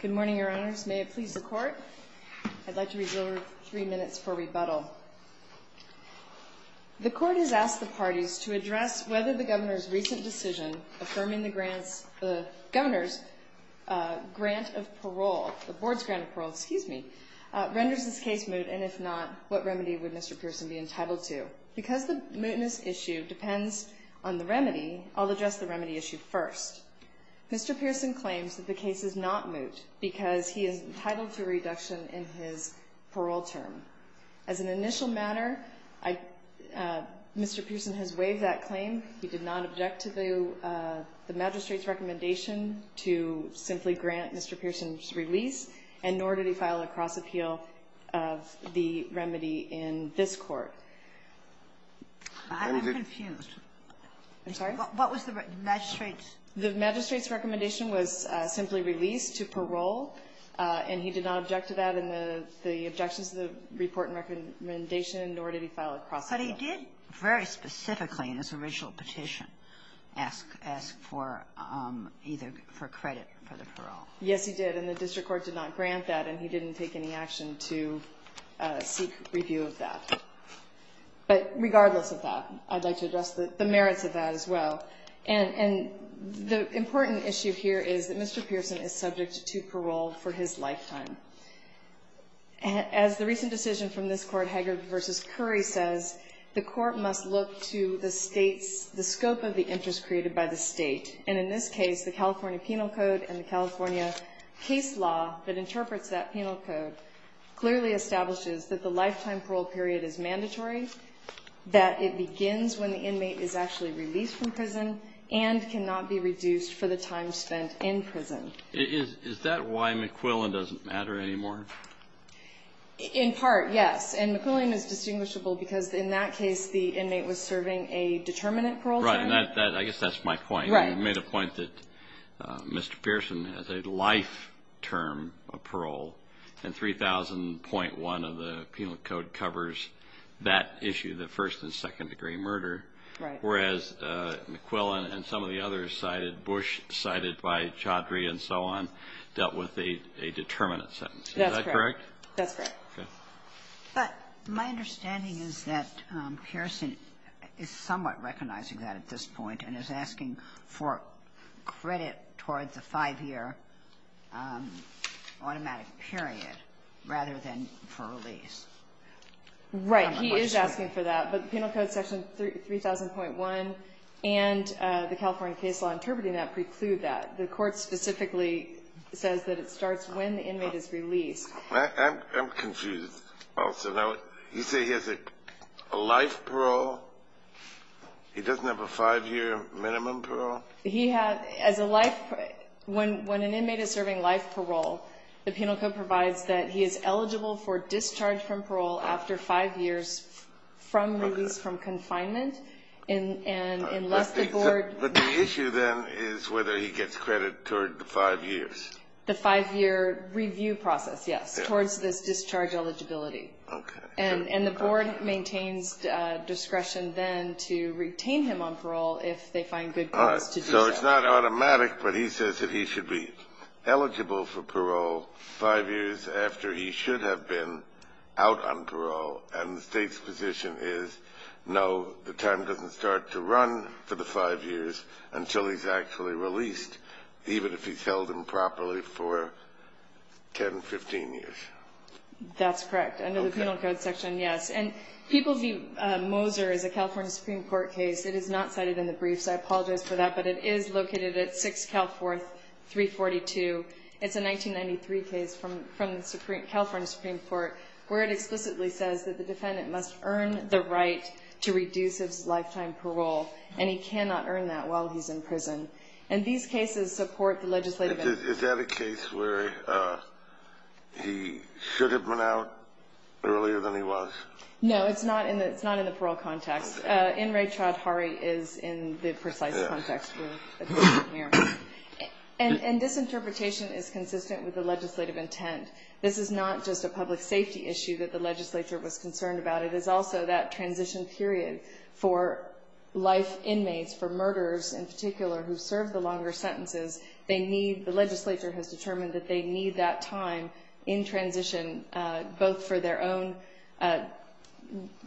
Good morning, Your Honors. May it please the Court, I'd like to reserve three minutes for rebuttal. The Court has asked the parties to address whether the Governor's recent decision affirming the Governor's grant of parole, the Board's grant of parole, excuse me, renders this case moot, and if not, what remedy would Mr. Pearson be entitled to? Because the mootness issue depends on the remedy, I'll address the remedy issue first. Mr. Pearson claims that the case is not moot because he is entitled to a reduction in his parole term. As an initial matter, I Mr. Pearson has waived that claim. He did not object to the magistrate's recommendation to simply grant Mr. Pearson's release, and nor did he file a cross-appeal of the remedy in this Court. I'm confused. I'm sorry? What was the magistrate's? The magistrate's recommendation was simply released to parole, and he did not object to that in the objections to the report and recommendation, nor did he file a cross-appeal. But he did very specifically in his original petition ask for either for credit for the parole. Yes, he did. And the district court did not grant that, and he didn't take any action to seek review of that. But regardless of that, I'd like to address the merits of that as well. And the important issue here is that Mr. Pearson is subject to parole for his lifetime. As the recent decision from this Court, Hager v. Curry, says, the Court must look to the scope of the interest created by the State, and in this case, the California Penal Code and the California case law that interprets that penal code clearly establishes that the lifetime parole period is mandatory, that it begins when the inmate is actually released from prison, and cannot be reduced for the time spent in prison. Is that why McQuillan doesn't matter anymore? In part, yes. And McQuillan is distinguishable because in that case, the inmate was serving a determinate parole term. Right. And I guess that's my point. Right. You made a point that Mr. Pearson has a life term of parole, and 3000.1 of the Penal Code covers that issue, the first and second degree murder. Right. Whereas McQuillan and some of the others cited, Bush cited by Chaudhry and so on, dealt with a determinate sentence. Is that correct? That's correct. Okay. But my understanding is that Pearson is somewhat recognizing that at this point and is asking for credit towards a five-year automatic period rather than for release. Right. He is asking for that. But the Penal Code section 3000.1 and the California case law interpreting that preclude that. The Court specifically says that it starts when the inmate is released. I'm confused also. You say he has a life parole? He doesn't have a five-year minimum parole? He has a life parole. When an inmate is serving life parole, the Penal Code provides that he is eligible for discharge from parole after five years from release, from confinement, unless the board But the issue then is whether he gets credit toward the five years. The five-year review process, yes, towards this discharge eligibility. Okay. And the board maintains discretion then to retain him on parole if they find good ways to do so. All right. So it's not automatic, but he says that he should be eligible for parole five years after he should have been out on parole, and the state's position is, no, the time doesn't start to run for the five years until he's actually released, even if he's held improperly for 10, 15 years. That's correct. Under the Penal Code section, yes. And People v. Moser is a California Supreme Court case. It is not cited in the briefs. I apologize for that, but it is located at 6 Cal 4342. It's a 1993 case from the California Supreme Court, where it explicitly says that the defendant must earn the right to reduce his lifetime parole, and he cannot earn that while he's in prison. And these cases support the legislative interest. Is that a case where he should have been out earlier than he was? No, it's not in the parole context. N. Ray Choudhury is in the precise context here. And this interpretation is consistent with the legislative intent. This is not just a public safety issue that the legislature was concerned about. It is also that transition period for life inmates, for murderers in particular, who serve the longer sentences. The legislature has determined that they need that time in transition both for their own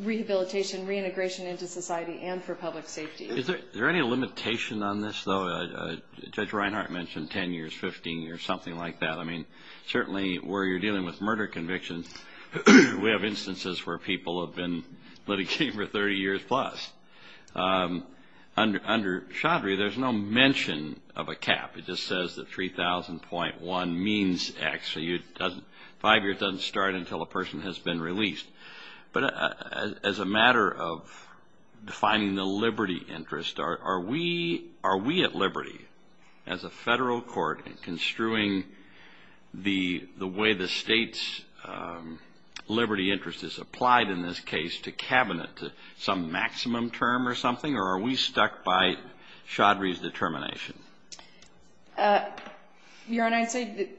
rehabilitation, reintegration into society, and for public safety. Is there any limitation on this, though? Judge Reinhart mentioned 10 years, 15 years, something like that. I mean, certainly where you're dealing with murder convictions, we have instances where people have been litigating for 30 years plus. Under Choudhury, there's no mention of a cap. It just says that 3,000.1 means X, so five years doesn't start until a person has been released. But as a matter of defining the liberty interest, are we at liberty as a federal court in construing the way the state's liberty interest is applied in this case to cabinet to some maximum term or something, or are we stuck by Choudhury's determination? Your Honor, I'd say,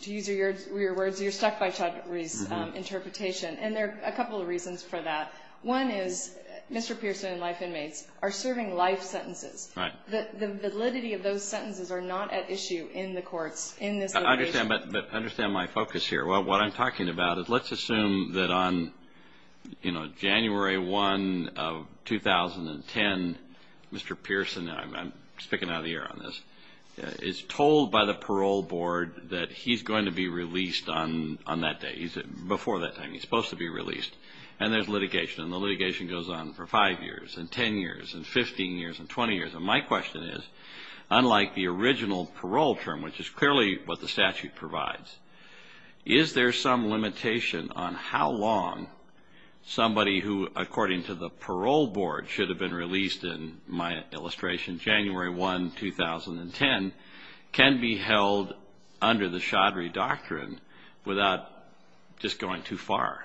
to use your words, you're stuck by Choudhury's interpretation. And there are a couple of reasons for that. One is Mr. Pearson and life inmates are serving life sentences. Right. The validity of those sentences are not at issue in the courts in this litigation. I understand. But understand my focus here. What I'm talking about is let's assume that on, you know, January 1 of 2010, Mr. Pearson, and I'm sticking out of the air on this, is told by the parole board that he's going to be released on that day. Before that time, he's supposed to be released. And there's litigation. And the litigation goes on for five years and 10 years and 15 years and 20 years. And my question is, unlike the original parole term, which is clearly what the statute provides, is there some limitation on how long somebody who, according to the parole board, should have been released in my illustration January 1, 2010, can be held under the Choudhury doctrine without just going too far?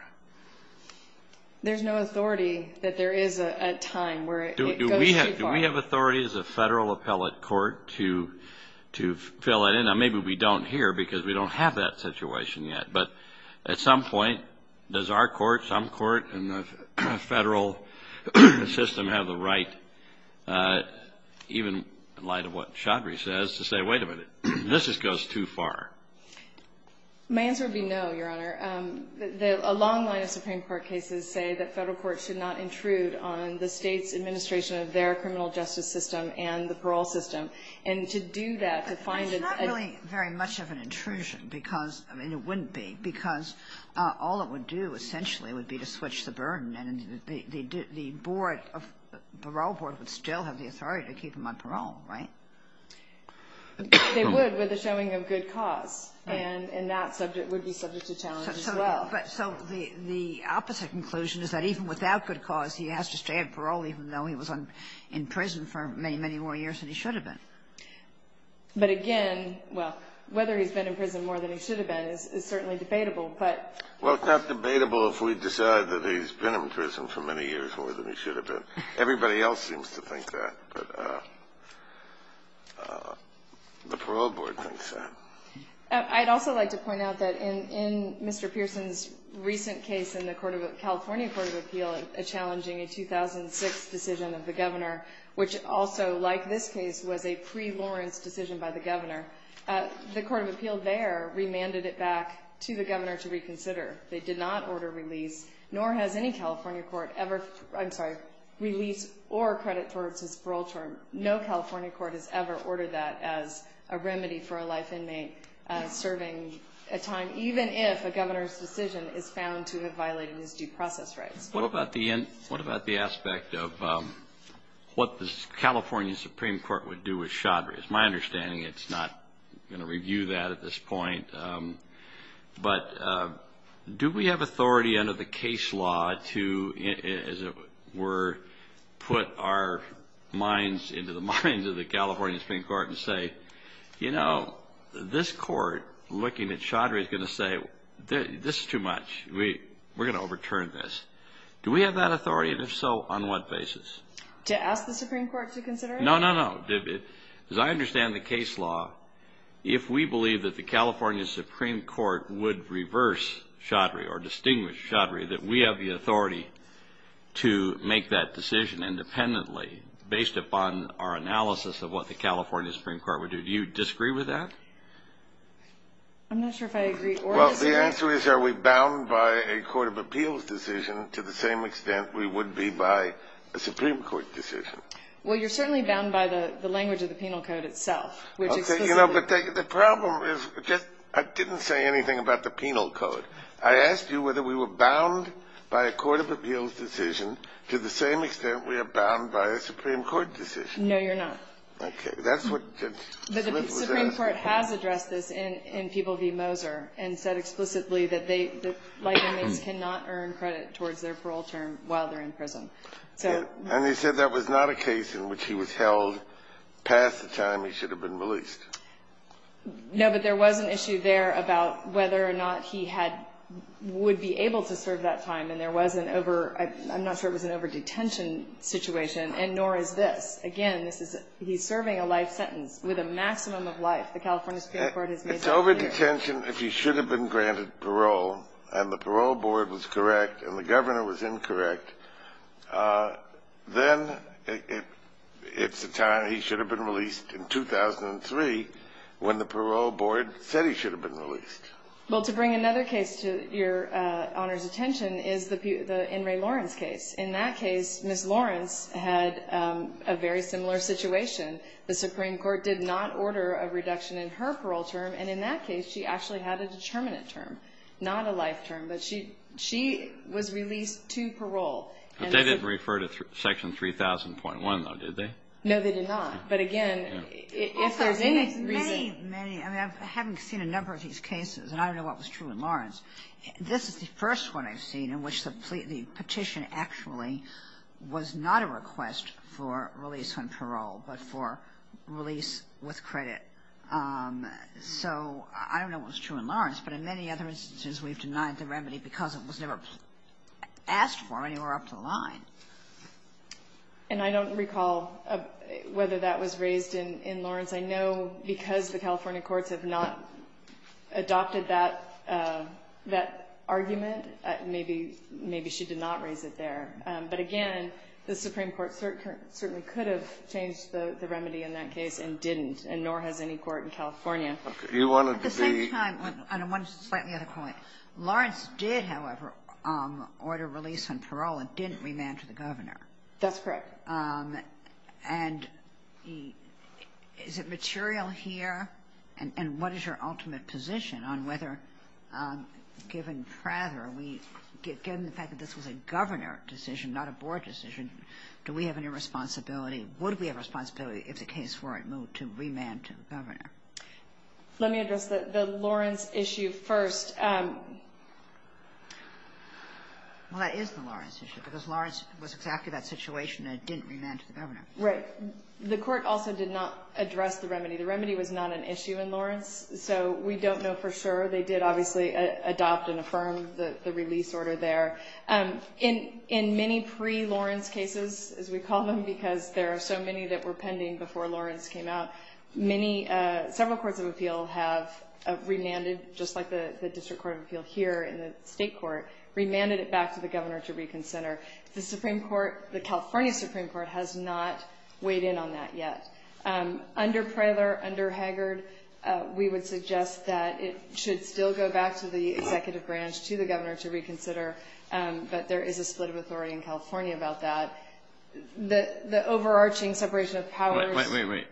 There's no authority that there is a time where it goes too far. Do we have authority as a federal appellate court to fill it in? Now, maybe we don't here because we don't have that situation yet. But at some point, does our court, some court in the federal system, have the right, even in light of what Choudhury says, to say, wait a minute, this just goes too far? My answer would be no, Your Honor. A long line of Supreme Court cases say that federal courts should not intrude on the state's administration of their criminal justice system and the parole system. And to do that, to find a- It's not really very much of an intrusion because, I mean, it wouldn't be, because all it would do essentially would be to switch the burden. And the parole board would still have the authority to keep them on parole, right? They would with a showing of good cause. And that subject would be subject to challenge as well. So the opposite conclusion is that even without good cause, he has to stay on parole even though he was in prison for many, many more years than he should have been. But again, well, whether he's been in prison more than he should have been is certainly debatable, but- Well, it's not debatable if we decide that he's been in prison for many years more than he should have been. Everybody else seems to think that. But the parole board thinks that. I'd also like to point out that in Mr. Pearson's recent case in the California Court of Appeal, challenging a 2006 decision of the governor, which also, like this case, was a pre-Lawrence decision by the governor, the Court of Appeal there remanded it back to the governor to reconsider. They did not order release, nor has any California court ever- No California court has ever ordered that as a remedy for a life inmate serving a time, even if a governor's decision is found to have violated his due process rights. What about the aspect of what the California Supreme Court would do with Chaudry? It's my understanding it's not going to review that at this point. But do we have authority under the case law to, as it were, put our minds into the minds of the California Supreme Court and say, you know, this court, looking at Chaudry, is going to say, this is too much. We're going to overturn this. Do we have that authority, and if so, on what basis? To ask the Supreme Court to consider it? No, no, no. As I understand the case law, if we believe that the California Supreme Court would reverse Chaudry or distinguish Chaudry, that we have the authority to make that decision independently based upon our analysis of what the California Supreme Court would do. Do you disagree with that? I'm not sure if I agree or disagree. Well, the answer is, are we bound by a Court of Appeals decision to the same extent we would be by a Supreme Court decision? Well, you're certainly bound by the language of the penal code itself. Okay, you know, but the problem is, I didn't say anything about the penal code. I asked you whether we were bound by a Court of Appeals decision to the same extent we are bound by a Supreme Court decision. No, you're not. Okay. But the Supreme Court has addressed this in People v. Moser and said explicitly that light inmates cannot earn credit towards their parole term while they're in prison. And they said that was not a case in which he was held past the time he should have been released. No, but there was an issue there about whether or not he had or would be able to serve that time, and there was an over-I'm not sure it was an over-detention situation, and nor is this. Again, this is he's serving a life sentence with a maximum of life. The California Supreme Court has made that clear. It's over-detention if he should have been granted parole, and the parole board was correct and the governor was incorrect, then it's the time he should have been released in 2003 when the parole board said he should have been released. Well, to bring another case to Your Honor's attention is the In re Lawrence case. In that case, Ms. Lawrence had a very similar situation. The Supreme Court did not order a reduction in her parole term, and in that case, she actually had a determinant term, not a life term. But she was released to parole. But they didn't refer to Section 3000.1, though, did they? No, they did not. But, again, if there's any reason. Many, many. I mean, I haven't seen a number of these cases, and I don't know what was true in Lawrence. This is the first one I've seen in which the petition actually was not a request for release on parole, but for release with credit. So I don't know what was true in Lawrence, but in many other instances, we've denied the remedy because it was never asked for anywhere up the line. And I don't recall whether that was raised in Lawrence. I know because the California courts have not adopted that argument, maybe she did not raise it there. But, again, the Supreme Court certainly could have changed the remedy in that case At the same time, on one slightly other point, Lawrence did, however, order release on parole and didn't remand to the governor. That's correct. And is it material here? And what is your ultimate position on whether, given Prather, given the fact that this was a governor decision, not a board decision, do we have any responsibility, would we have responsibility if the case weren't moved to remand to the governor? Let me address the Lawrence issue first. Well, that is the Lawrence issue because Lawrence was exactly that situation and it didn't remand to the governor. Right. The court also did not address the remedy. The remedy was not an issue in Lawrence, so we don't know for sure. They did obviously adopt and affirm the release order there. In many pre-Lawrence cases, as we call them, because there are so many that were pending before Lawrence came out, several courts of appeal have remanded, just like the District Court of Appeal here in the state court, remanded it back to the governor to reconsider. The California Supreme Court has not weighed in on that yet. Under Prather, under Haggard, we would suggest that it should still go back to the executive branch, to the governor to reconsider, but there is a split of authority in California about that. The overarching separation of powers. Wait, wait, wait.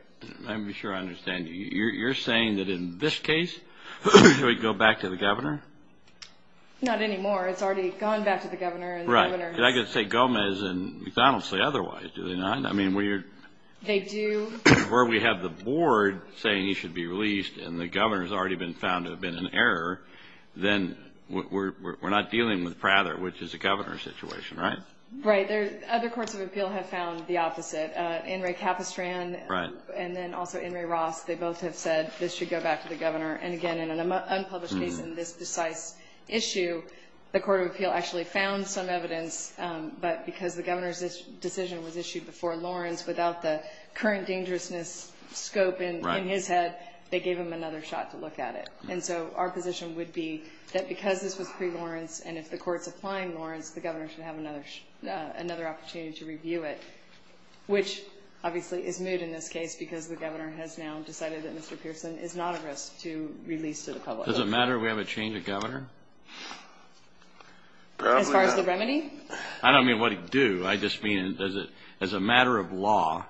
Let me be sure I understand. You're saying that in this case it would go back to the governor? Not anymore. It's already gone back to the governor. Right. I could say Gomez and McDonald say otherwise. Do they not? I mean, where we have the board saying he should be released and the governor has already been found to have been an error, then we're not dealing with Prather, which is a governor situation, right? Right. Other courts of appeal have found the opposite. In re Capistran and then also in re Ross, they both have said this should go back to the governor. And, again, in an unpublished case in this precise issue, the court of appeal actually found some evidence, but because the governor's decision was issued before Lawrence without the current dangerousness scope in his head, they gave him another shot to look at it. And so our position would be that because this was pre-Lawrence and if the court's applying Lawrence, the governor should have another opportunity to review it, which obviously is moot in this case because the governor has now decided that Mr. Pearson is not a risk to release to the public. Does it matter if we have a change of governor? As far as the remedy? I don't mean what he'd do. I just mean as a matter of law,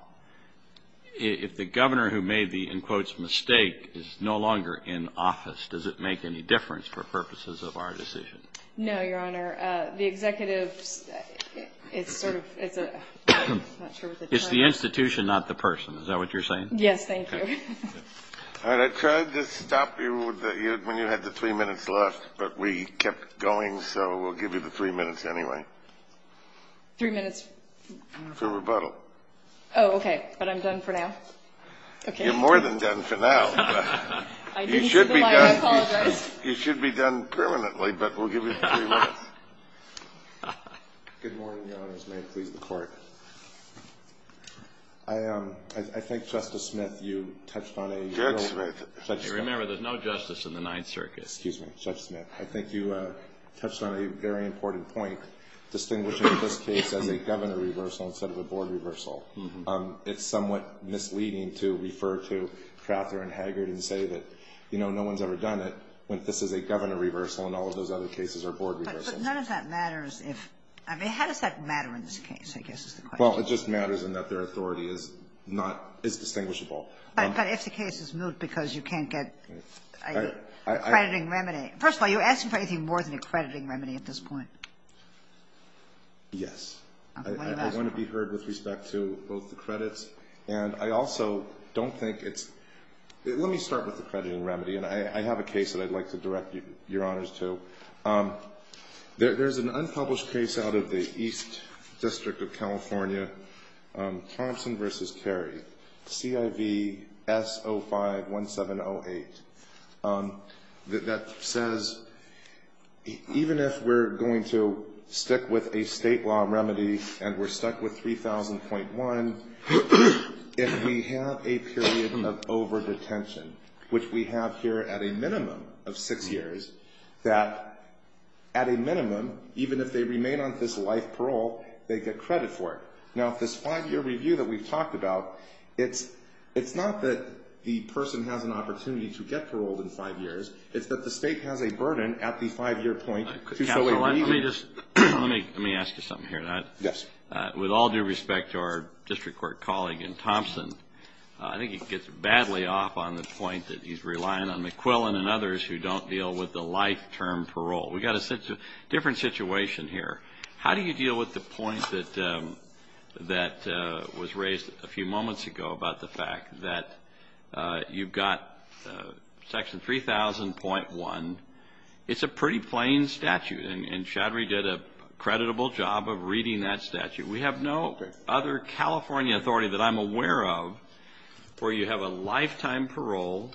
if the governor who made the, in quotes, mistake is no longer in office, does it make any difference for purposes of our decision? No, Your Honor. The executives, it's sort of, it's a, I'm not sure what the term is. It's the institution, not the person. Is that what you're saying? Yes, thank you. All right, I tried to stop you when you had the three minutes left, but we kept going, so we'll give you the three minutes anyway. Three minutes? For rebuttal. Oh, okay, but I'm done for now? You're more than done for now. I didn't see the line. I apologize. You should be done permanently, but we'll give you the three minutes. Good morning, Your Honors. May it please the Court. I think, Justice Smith, you touched on a general. Judge Smith. Remember, there's no justice in the Ninth Circuit. Excuse me, Judge Smith. I think you touched on a very important point, case as a governor reversal instead of a board reversal. It's somewhat misleading to refer to Crather and Haggard and say that, you know, no one's ever done it, when this is a governor reversal and all of those other cases are board reversals. But none of that matters if, I mean, how does that matter in this case, I guess is the question. Well, it just matters in that their authority is not, is distinguishable. But if the case is moved because you can't get an accrediting remedy. Okay. First of all, you're asking for anything more than an accrediting remedy at this point. Yes. I want to be heard with respect to both the credits. And I also don't think it's – let me start with accrediting remedy. And I have a case that I'd like to direct Your Honors to. There's an unpublished case out of the East District of California, Thompson v. Carey, CIVS051708. That says even if we're going to stick with a state law remedy and we're stuck with 3000.1, if we have a period of overdetention, which we have here at a minimum of six years, that at a minimum, even if they remain on this life parole, they get credit for it. Now, this five-year review that we've talked about, it's not that the person has an opportunity to get paroled in five years. It's that the state has a burden at the five-year point to show a reason. Let me ask you something here. Yes. With all due respect to our district court colleague in Thompson, I think it gets badly off on the point that he's relying on McQuillan and others who don't deal with the life-term parole. We've got a different situation here. How do you deal with the point that was raised a few moments ago about the fact that you've got section 3000.1? It's a pretty plain statute, and Chadri did a creditable job of reading that statute. We have no other California authority that I'm aware of where you have a lifetime parole,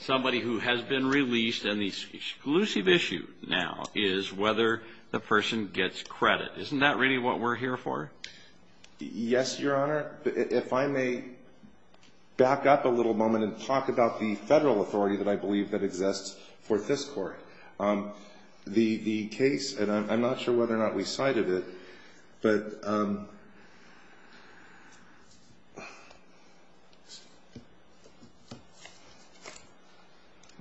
somebody who has been released, and the exclusive issue now is whether the person gets credit. Isn't that really what we're here for? Yes, Your Honor. If I may back up a little moment and talk about the federal authority that I believe that exists for this court. The case, and I'm not sure whether or not we cited it.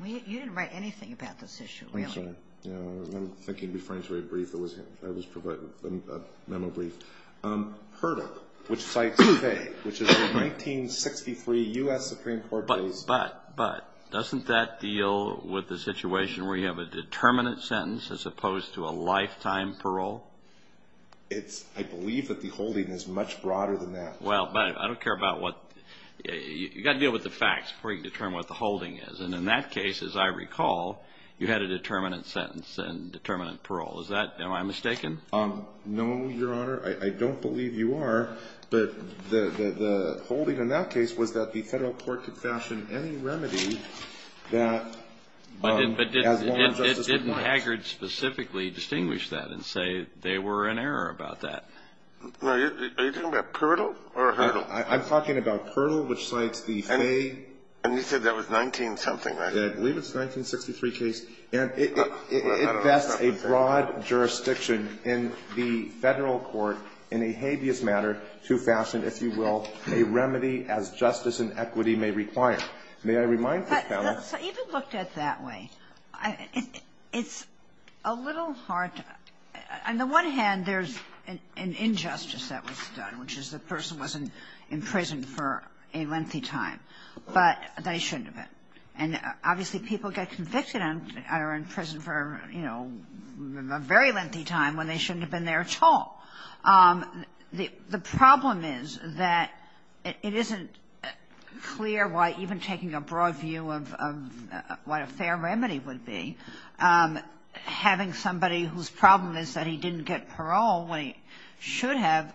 You didn't write anything about this issue, really. I'm sorry. I'm thinking of referring to a brief that was provided, a memo brief. HRDA, which cites Faye, which is a 1963 U.S. Supreme Court case. But doesn't that deal with the situation where you have a determinate sentence as opposed to a lifetime parole? I believe that the holding is much broader than that. Well, I don't care about what. You've got to deal with the facts before you can determine what the holding is. And in that case, as I recall, you had a determinate sentence and determinate parole. Am I mistaken? No, Your Honor. I don't believe you are. But the holding in that case was that the federal court could fashion any remedy that as long as justice requires. Didn't Haggard specifically distinguish that and say they were in error about that? Are you talking about Pirdle or HRDA? I'm talking about Pirdle, which cites the Faye. And you said that was 19-something, right? I believe it's a 1963 case. And it vests a broad jurisdiction in the federal court in a habeas matter to fashion, if you will, a remedy as justice and equity may require. But even looked at that way, it's a little hard. On the one hand, there's an injustice that was done, which is the person wasn't in prison for a lengthy time. But they shouldn't have been. And obviously people get convicted and are in prison for, you know, a very lengthy time when they shouldn't have been there at all. The problem is that it isn't clear why even taking a broad view of what a fair remedy would be, having somebody whose problem is that he didn't get parole when he should have,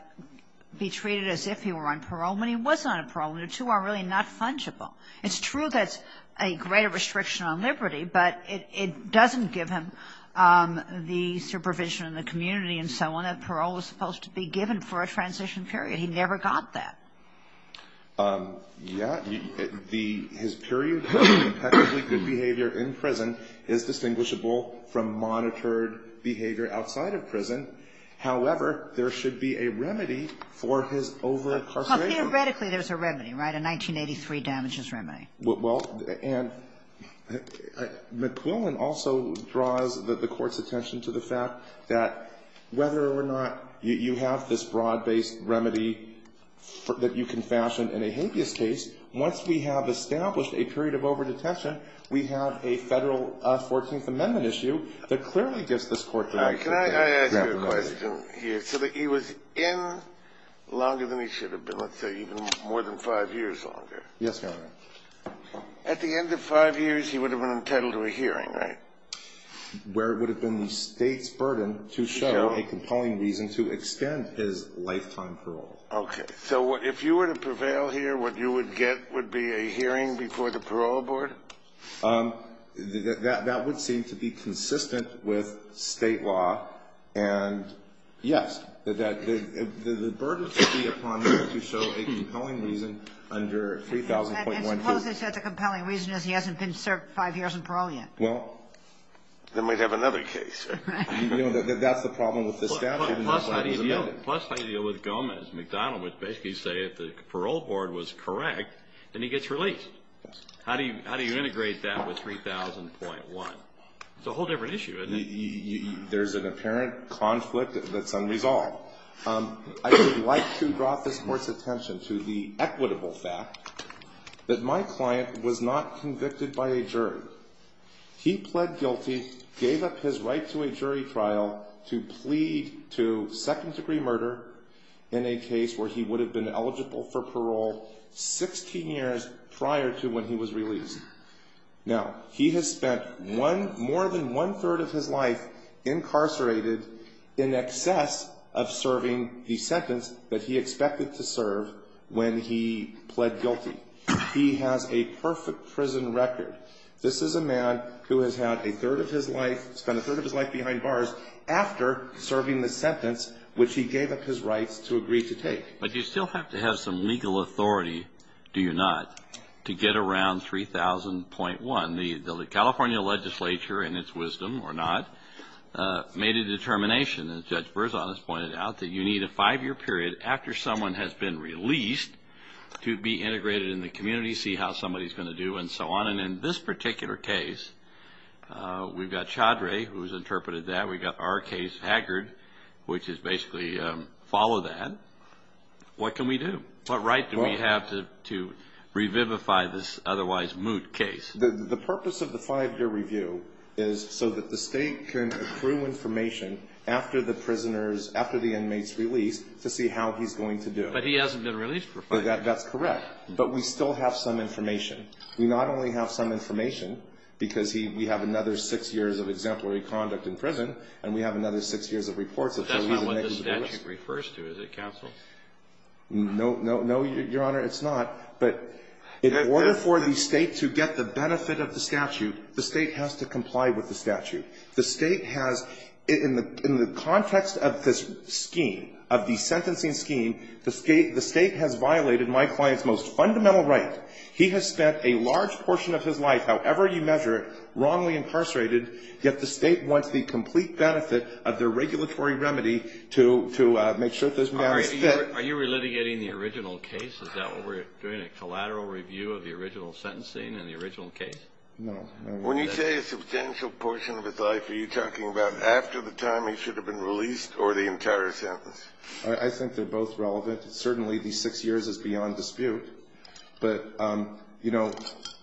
be treated as if he were on parole when he was on parole, and the two are really not fungible. It's true there's a greater restriction on liberty, but it doesn't give him the supervision in the community and so on. The parole was supposed to be given for a transition period. He never got that. Yeah. His period of impeccably good behavior in prison is distinguishable from monitored behavior outside of prison. However, there should be a remedy for his over-incarceration. Theoretically, there's a remedy, right? A 1983 damages remedy. Well, and McQuillan also draws the court's attention to the fact that whether or not you have this broad-based remedy that you can fashion in a habeas case, once we have established a period of overdetention, we have a federal 14th Amendment issue that clearly gives this court the right to do that. Can I ask you a question here? So he was in longer than he should have been, let's say even more than five years longer. Yes, Your Honor. At the end of five years, he would have been entitled to a hearing, right? Where it would have been the State's burden to show a compelling reason to extend his lifetime parole. Okay. So if you were to prevail here, what you would get would be a hearing before the Parole Board? That would seem to be consistent with State law. And, yes, the burden would be upon him to show a compelling reason under 3000.12. And suppose they said the compelling reason is he hasn't been served five years in parole yet. Well, then we'd have another case. You know, that's the problem with this statute. Plus, how do you deal with Gomez? McDonald would basically say if the Parole Board was correct, then he gets released. How do you integrate that with 3000.1? It's a whole different issue, isn't it? There's an apparent conflict that's unresolved. I would like to draw this Court's attention to the equitable fact that my client was not convicted by a jury. He pled guilty, gave up his right to a jury trial to plead to second-degree murder in a case where he would have been eligible for parole 16 years prior to when he was released. Now, he has spent more than one-third of his life incarcerated in excess of serving the sentence that he expected to serve when he pled guilty. He has a perfect prison record. This is a man who has had a third of his life, spent a third of his life behind bars after serving the sentence which he gave up his rights to agree to take. But you still have to have some legal authority, do you not, to get around 3000.1? The California legislature, in its wisdom or not, made a determination, as Judge Berzon has pointed out, that you need a five-year period after someone has been released to be integrated in the community, see how somebody's going to do, and so on. In this particular case, we've got Chaudry who's interpreted that. We've got our case, Haggard, which is basically follow that. What can we do? What right do we have to revivify this otherwise moot case? The purpose of the five-year review is so that the State can accrue information after the inmates' release to see how he's going to do. But he hasn't been released for five years. That's correct. But we still have some information. We not only have some information because we have another six years of exemplary conduct in prison and we have another six years of reports. But that's not what the statute refers to, is it, counsel? No, Your Honor, it's not. But in order for the State to get the benefit of the statute, the State has to comply with the statute. The State has, in the context of this scheme, of the sentencing scheme, the State has violated my client's most fundamental right. He has spent a large portion of his life, however you measure it, wrongly incarcerated, yet the State wants the complete benefit of the regulatory remedy to make sure that this man is fit. Are you relitigating the original case? Is that what we're doing, a collateral review of the original sentencing and the original case? No. When you say a substantial portion of his life, are you talking about after the time he should have been released or the entire sentence? I think they're both relevant. Certainly these six years is beyond dispute. But, you know,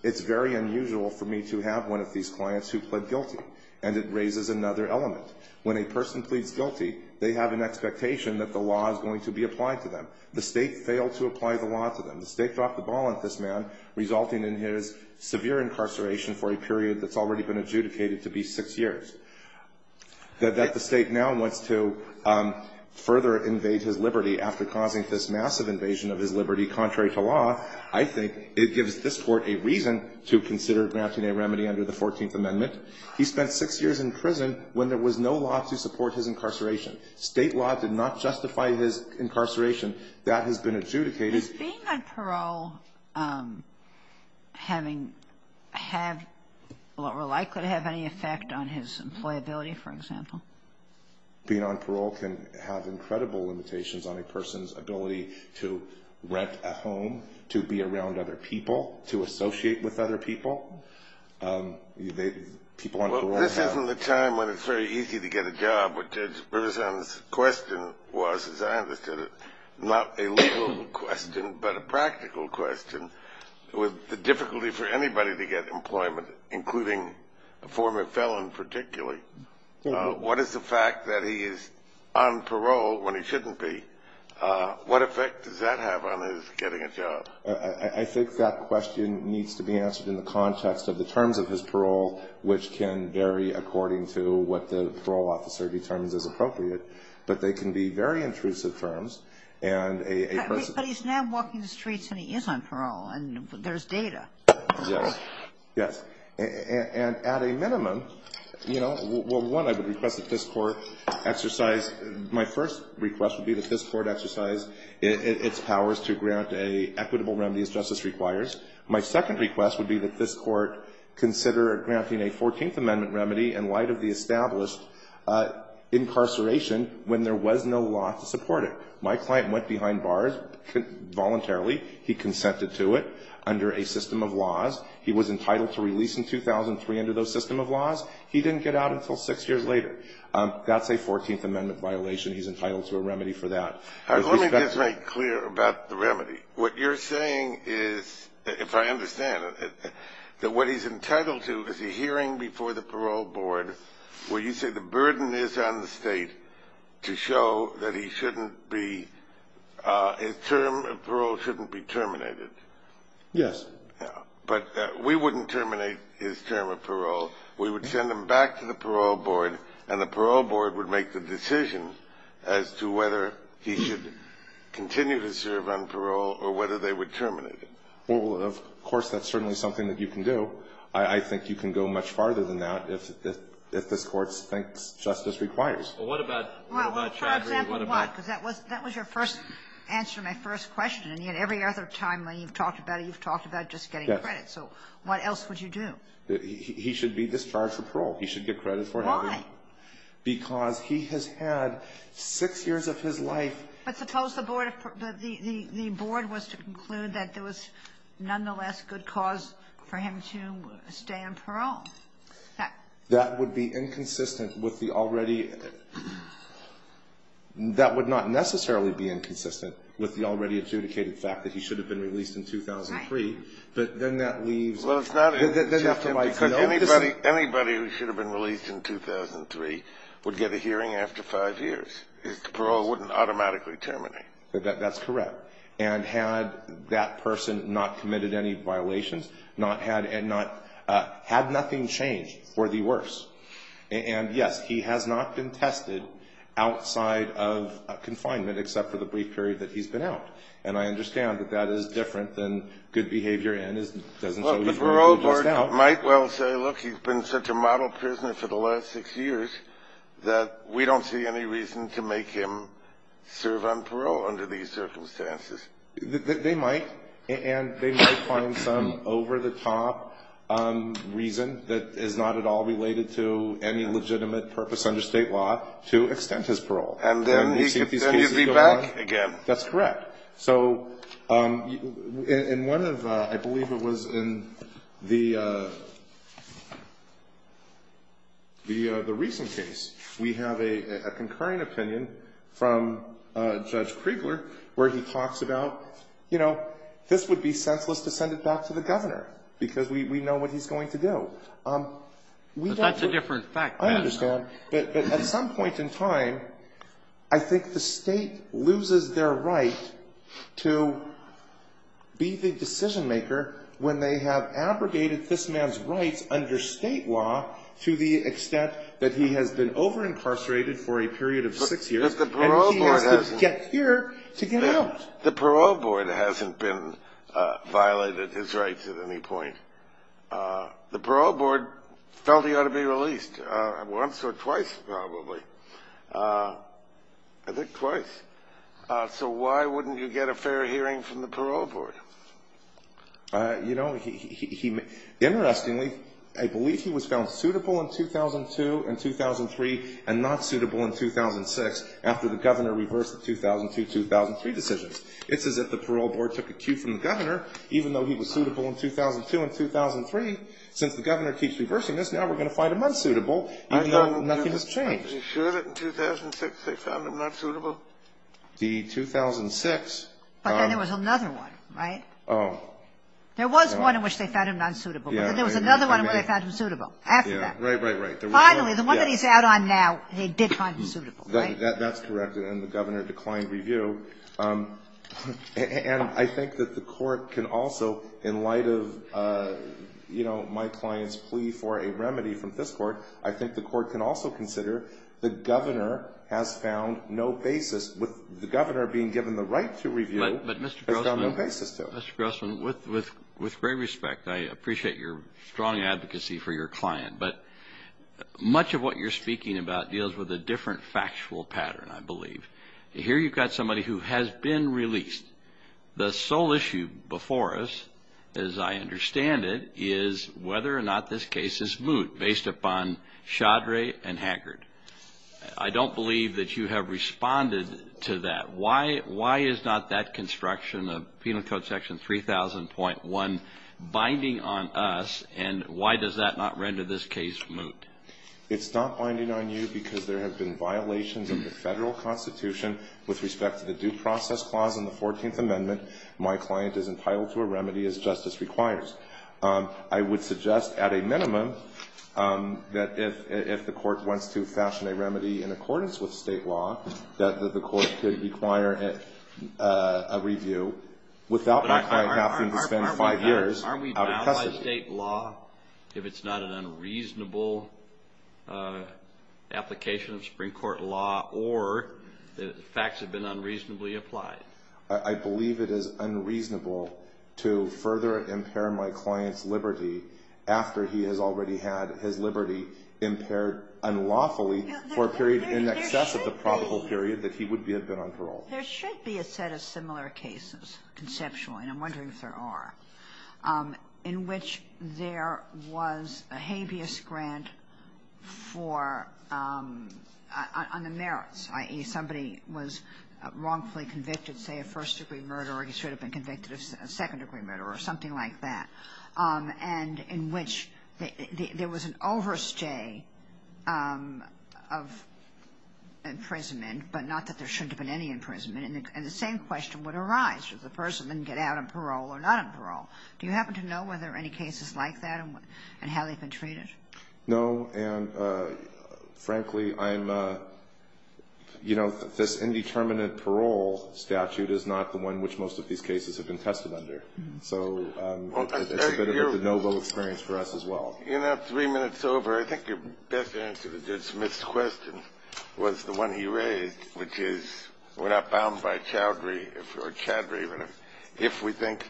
it's very unusual for me to have one of these clients who pled guilty, and it raises another element. When a person pleads guilty, they have an expectation that the law is going to be applied to them. The State failed to apply the law to them. The State dropped the ball on this man, resulting in his severe incarceration for a period that's already been adjudicated to be six years. That the State now wants to further invade his liberty after causing this massive invasion of his liberty, contrary to law, I think it gives this Court a reason to consider granting a remedy under the Fourteenth Amendment. He spent six years in prison when there was no law to support his incarceration. State law did not justify his incarceration. That has been adjudicated. Is being on parole likely to have any effect on his employability, for example? Being on parole can have incredible limitations on a person's ability to rent a home, to be around other people, to associate with other people. Well, this isn't the time when it's very easy to get a job. What Judge Riverson's question was, as I understood it, not a legal question, but a practical question, was the difficulty for anybody to get employment, including a former felon particularly. What is the fact that he is on parole when he shouldn't be? What effect does that have on his getting a job? I think that question needs to be answered in the context of the terms of his parole, which can vary according to what the parole officer determines is appropriate. But they can be very intrusive terms. But he's now walking the streets and he is on parole, and there's data. Yes. Yes. And at a minimum, you know, well, one, I would request that this Court exercise my first request would be that this Court exercise its powers to grant an equitable remedy as justice requires. My second request would be that this Court consider granting a 14th Amendment remedy in light of the established incarceration when there was no law to support it. My client went behind bars voluntarily. He consented to it under a system of laws. He was entitled to release in 2003 under those system of laws. He didn't get out until six years later. That's a 14th Amendment violation. He's entitled to a remedy for that. All right, let me just make clear about the remedy. What you're saying is, if I understand it, that what he's entitled to is a hearing before the Parole Board where you say the burden is on the state to show that he shouldn't be his term of parole shouldn't be terminated. Yes. But we wouldn't terminate his term of parole. We would send him back to the Parole Board, and the Parole Board would make the decision as to whether he should continue to serve on parole or whether they would terminate him. Well, of course, that's certainly something that you can do. I think you can go much farther than that if this Court thinks justice requires. Well, what about, what about Chaudhry? Well, for example, what? Because that was your first answer to my first question, and yet every other time you've talked about it, you've talked about just getting credit. So what else would you do? He should be discharged from parole. He should get credit for having. Why? Because he has had six years of his life. But suppose the Board of, the Board was to conclude that there was nonetheless good cause for him to stay on parole. That would be inconsistent with the already, that would not necessarily be inconsistent with the already adjudicated fact that he should have been released in 2003. Right. But then that leaves. Well, it's not inconsistent because anybody, anybody who should have been released in 2003 would get a hearing after five years. His parole wouldn't automatically terminate. That's correct. And had that person not committed any violations, not had, and not, had nothing changed, for the worse. And, yes, he has not been tested outside of confinement except for the brief period that he's been out. And I understand that that is different than good behavior and it doesn't show he's But the parole board might well say, look, he's been such a model prisoner for the last six years that we don't see any reason to make him serve on parole under these circumstances. They might. And they might find some over-the-top reason that is not at all related to any legitimate purpose under State law to extend his parole. And then you'd be back again. That's correct. So in one of, I believe it was in the, the recent case, we have a concurring opinion from Judge Kriegler where he talks about, you know, this would be senseless to send it back to the Governor because we know what he's going to do. But that's a different fact. I understand. But at some point in time, I think the State loses their right to be the decision maker when they have abrogated this man's rights under State law to the extent that he has been over-incarcerated for a period of six years and he has to get here to get out. The parole board hasn't been violated his rights at any point. The parole board felt he ought to be released. Once or twice probably. I think twice. So why wouldn't you get a fair hearing from the parole board? You know, he, interestingly, I believe he was found suitable in 2002 and 2003 and not suitable in 2006 after the Governor reversed the 2002-2003 decisions. It's as if the parole board took a cue from the Governor even though he was suitable in 2002 and 2003. Since the Governor keeps reversing this, now we're going to find him unsuitable even though nothing has changed. Are you sure that in 2006 they found him unsuitable? The 2006. But then there was another one, right? Oh. There was one in which they found him unsuitable. But then there was another one in which they found him suitable after that. Right, right, right. Finally, the one that he's out on now, they did find him suitable, right? That's correct. And the Governor declined review. And I think that the court can also, in light of, you know, my client's plea for a remedy from this court, I think the court can also consider the Governor has found no basis, with the Governor being given the right to review, has found no basis to. But, Mr. Grossman, with great respect, I appreciate your strong advocacy for your client, but much of what you're speaking about deals with a different factual pattern, I believe. Here you've got somebody who has been released. The sole issue before us, as I understand it, is whether or not this case is moot, based upon Chaudry and Haggard. I don't believe that you have responded to that. Why is not that construction of Penal Code Section 3000.1 binding on us, and why does that not render this case moot? It's not binding on you because there have been violations of the Federal Constitution with respect to the Due Process Clause in the 14th Amendment. My client is entitled to a remedy as justice requires. I would suggest, at a minimum, that if the court wants to fashion a remedy in accordance with state law, that the court could require a review without my client having to spend five years out of custody. If it's not state law, if it's not an unreasonable application of Supreme Court law, or the facts have been unreasonably applied. I believe it is unreasonable to further impair my client's liberty after he has already had his liberty impaired unlawfully for a period in excess of the probable period that he would have been on parole. There should be a set of similar cases, conceptually, and I'm wondering if there are, in which there was a habeas grant for, on the merits, i.e., somebody was wrongfully convicted, say, of first-degree murder, or he should have been convicted of second-degree murder, or something like that, and in which there was an overstay of imprisonment, but not that there shouldn't have been any imprisonment, and the same question would arise. If the person didn't get out on parole or not on parole, do you happen to know whether there are any cases like that and how they've been treated? No, and frankly, I'm, you know, this indeterminate parole statute is not the one which most of these cases have been tested under. So it's a bit of a de novo experience for us as well. In that three minutes over, I think your best answer to this missed question was the one he raised, which is we're not bound by chowdhury, or chadry, if we think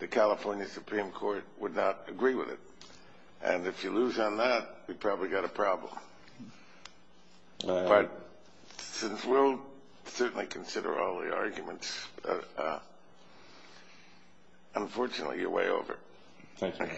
the California Supreme Court would not agree with it. And if you lose on that, we've probably got a problem. But since we'll certainly consider all the arguments, Thank you. Thank you.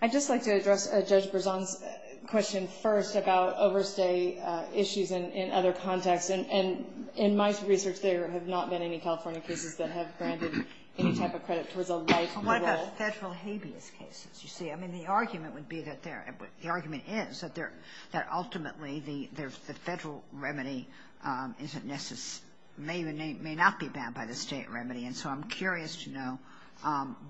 I'd just like to address Judge Berzon's question first about overstay issues in other contexts. And in my research, there have not been any California cases that have granted any type of credit towards a life or role. What about Federal habeas cases, you see? I mean, the argument would be that there – the argument is that ultimately the Federal remedy may not be bound by the State remedy. And so I'm curious to know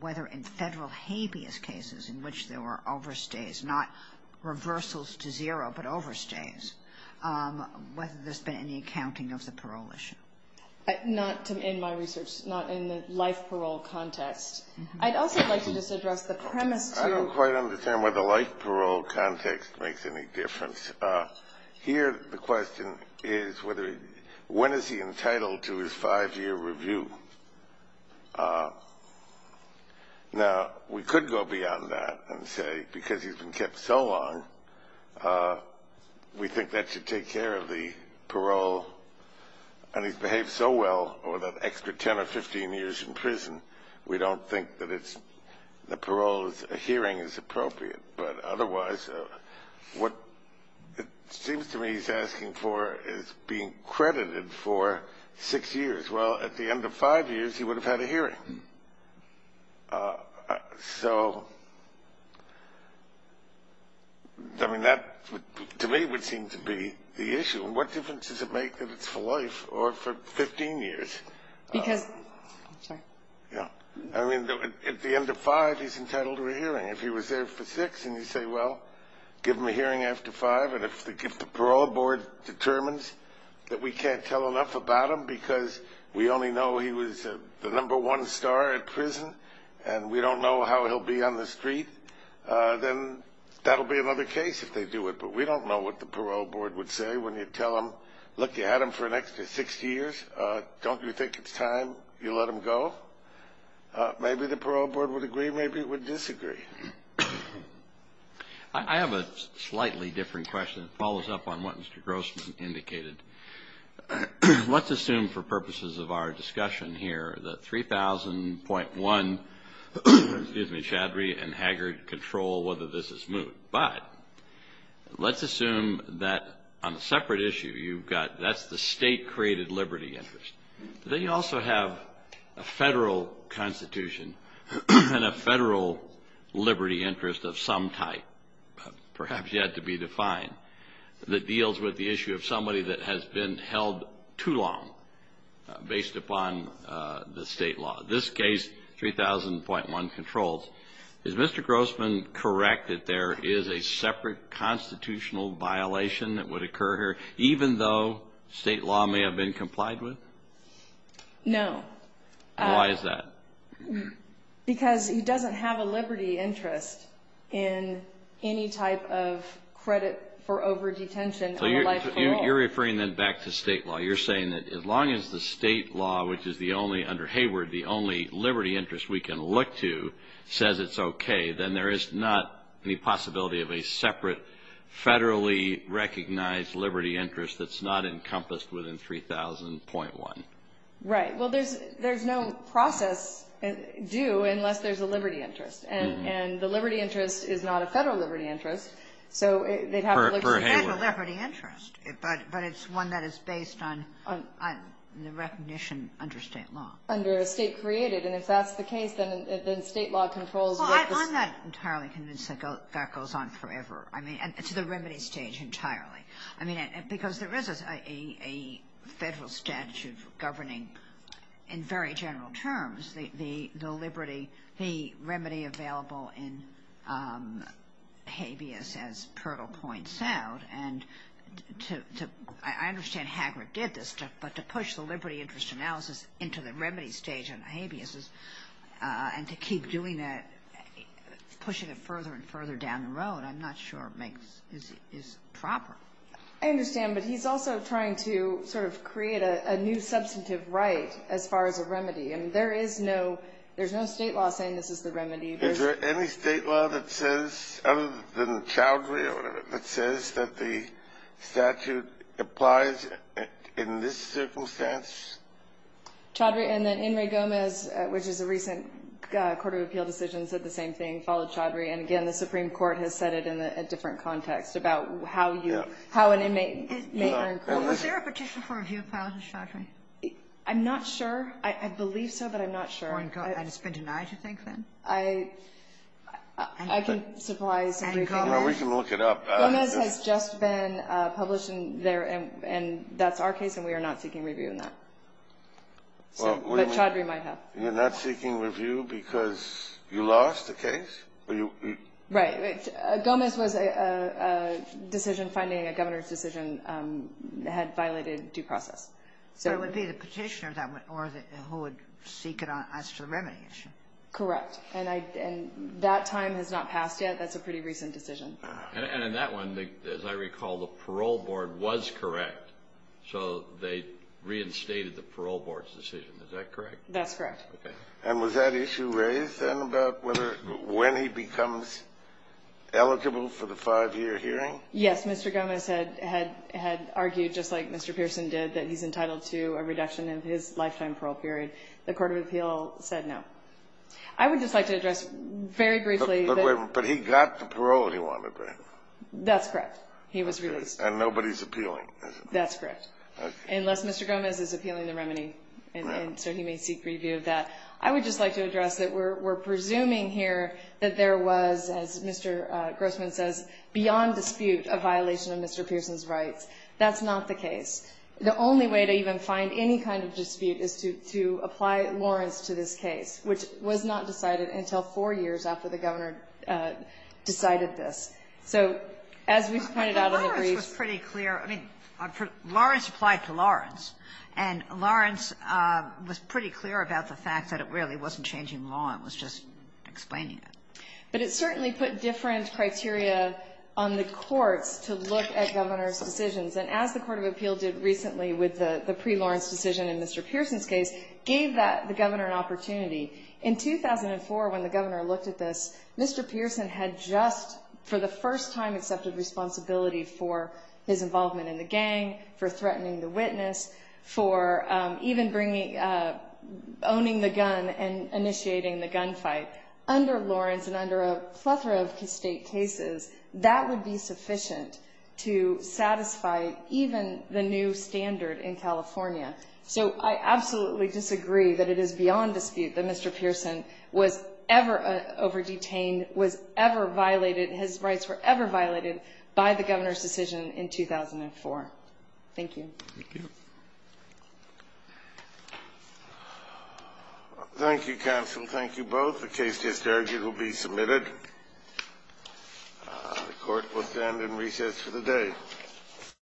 whether in Federal habeas cases, in which there were overstays, not reversals to zero, but overstays, whether there's been any accounting of the parole issue. Not in my research. Not in the life parole context. I'd also like to just address the premise to I don't quite understand why the life parole context makes any difference. Here the question is when is he entitled to his five-year review? Now, we could go beyond that and say because he's been kept so long, we think that should take care of the parole. And he's behaved so well over that extra 10 or 15 years in prison, we don't think that the parole hearing is appropriate. But otherwise, what it seems to me he's asking for is being credited for six years. Well, at the end of five years, he would have had a hearing. So, I mean, that to me would seem to be the issue. What difference does it make that it's for life or for 15 years? Because – sorry. Yeah. I mean, at the end of five, he's entitled to a hearing. If he was there for six and you say, well, give him a hearing after five. And if the parole board determines that we can't tell enough about him because we only know he was the number one star at prison and we don't know how he'll be on the street, then that'll be another case if they do it. But we don't know what the parole board would say when you tell them, look, you had him for an extra six years. Don't you think it's time you let him go? Maybe the parole board would agree. Maybe it would disagree. I have a slightly different question. It follows up on what Mr. Grossman indicated. Let's assume for purposes of our discussion here that 3000.1 Chadry and Haggard control whether this is moot. But let's assume that on a separate issue, you've got – that's the state-created liberty interest. Then you also have a federal constitution and a federal liberty interest of some type, perhaps yet to be defined, that deals with the issue of somebody that has been held too long based upon the state law. This case, 3000.1 controls. Is Mr. Grossman correct that there is a separate constitutional violation that would occur here even though state law may have been complied with? No. Why is that? Because he doesn't have a liberty interest in any type of credit for over-detention. So you're referring then back to state law. You're saying that as long as the state law, which is the only – under Hayward, the only liberty interest we can look to says it's okay, then there is not any possibility of a separate federally recognized liberty interest that's not encompassed within 3000.1. Right. Well, there's no process due unless there's a liberty interest. And the liberty interest is not a federal liberty interest, so they'd have to look to the federal liberty interest. For Hayward. But it's one that is based on the recognition under state law. Under state-created. And if that's the case, then state law controls what the – Well, I'm not entirely convinced that that goes on forever. I mean, to the remedy stage entirely. I mean, because there is a federal statute governing in very general terms the liberty, the remedy available in habeas, as Perl points out. And to – I understand Hayward did this, but to push the liberty interest analysis into the remedy stage in habeas, and to keep doing that, pushing it further and further down the road, I'm not sure makes – is proper. I understand. But he's also trying to sort of create a new substantive right as far as a remedy. And there is no – there's no state law saying this is the remedy. Is there any state law that says, other than Chaudhry or whatever, that says that the statute applies in this circumstance? Chaudhry and then In re Gomez, which is a recent court of appeal decision, said the same thing, followed Chaudhry. And again, the Supreme Court has said it in a different context about how you – how an inmate may earn credit. Well, was there a petition for review of Pilate and Chaudhry? I'm not sure. I believe so, but I'm not sure. And it's been denied, you think, then? I can supply some briefing. Well, we can look it up. Gomez has just been published there, and that's our case, and we are not seeking review in that. But Chaudhry might have. You're not seeking review because you lost the case? Right. Gomez was a decision finding – a governor's decision had violated due process. So it would be the petitioner that would – or who would seek it as to the remedy issue. Correct. And that time has not passed yet. That's a pretty recent decision. And in that one, as I recall, the parole board was correct, so they reinstated the parole board's decision. Is that correct? That's correct. And was that issue raised, then, about whether – when he becomes eligible for the five-year hearing? Yes. Mr. Gomez had argued, just like Mr. Pearson did, that he's entitled to a reduction of his lifetime parole period. The court of appeal said no. I would just like to address very briefly that – But he got the parole he wanted, right? That's correct. He was released. And nobody's appealing, is it? That's correct. Unless Mr. Gomez is appealing the remedy, and so he may seek review of that. I would just like to address that we're presuming here that there was, as Mr. Grossman says, beyond dispute a violation of Mr. Pearson's rights. That's not the case. The only way to even find any kind of dispute is to apply Lawrence to this case, which was not decided until four years after the Governor decided this. So as we've pointed out in the briefs – But Lawrence was pretty clear. I mean, Lawrence applied to Lawrence, and Lawrence was pretty clear about the fact that it really wasn't changing law. It was just explaining it. But it certainly put different criteria on the courts to look at Governor's decisions. And as the court of appeal did recently with the pre-Lawrence decision in Mr. Pearson's case, gave the Governor an opportunity. In 2004, when the Governor looked at this, Mr. Pearson had just for the first time accepted responsibility for his involvement in the gang, for threatening the witness, for even owning the gun and initiating the gunfight. Under Lawrence and under a plethora of state cases, that would be sufficient to satisfy even the new standard in California. So I absolutely disagree that it is beyond dispute that Mr. Pearson was ever over-detained, was ever violated, his rights were ever violated by the Governor's decision in 2004. Thank you. Thank you, counsel. Thank you both. The case is here. It will be submitted. The court will stand in recess for the day.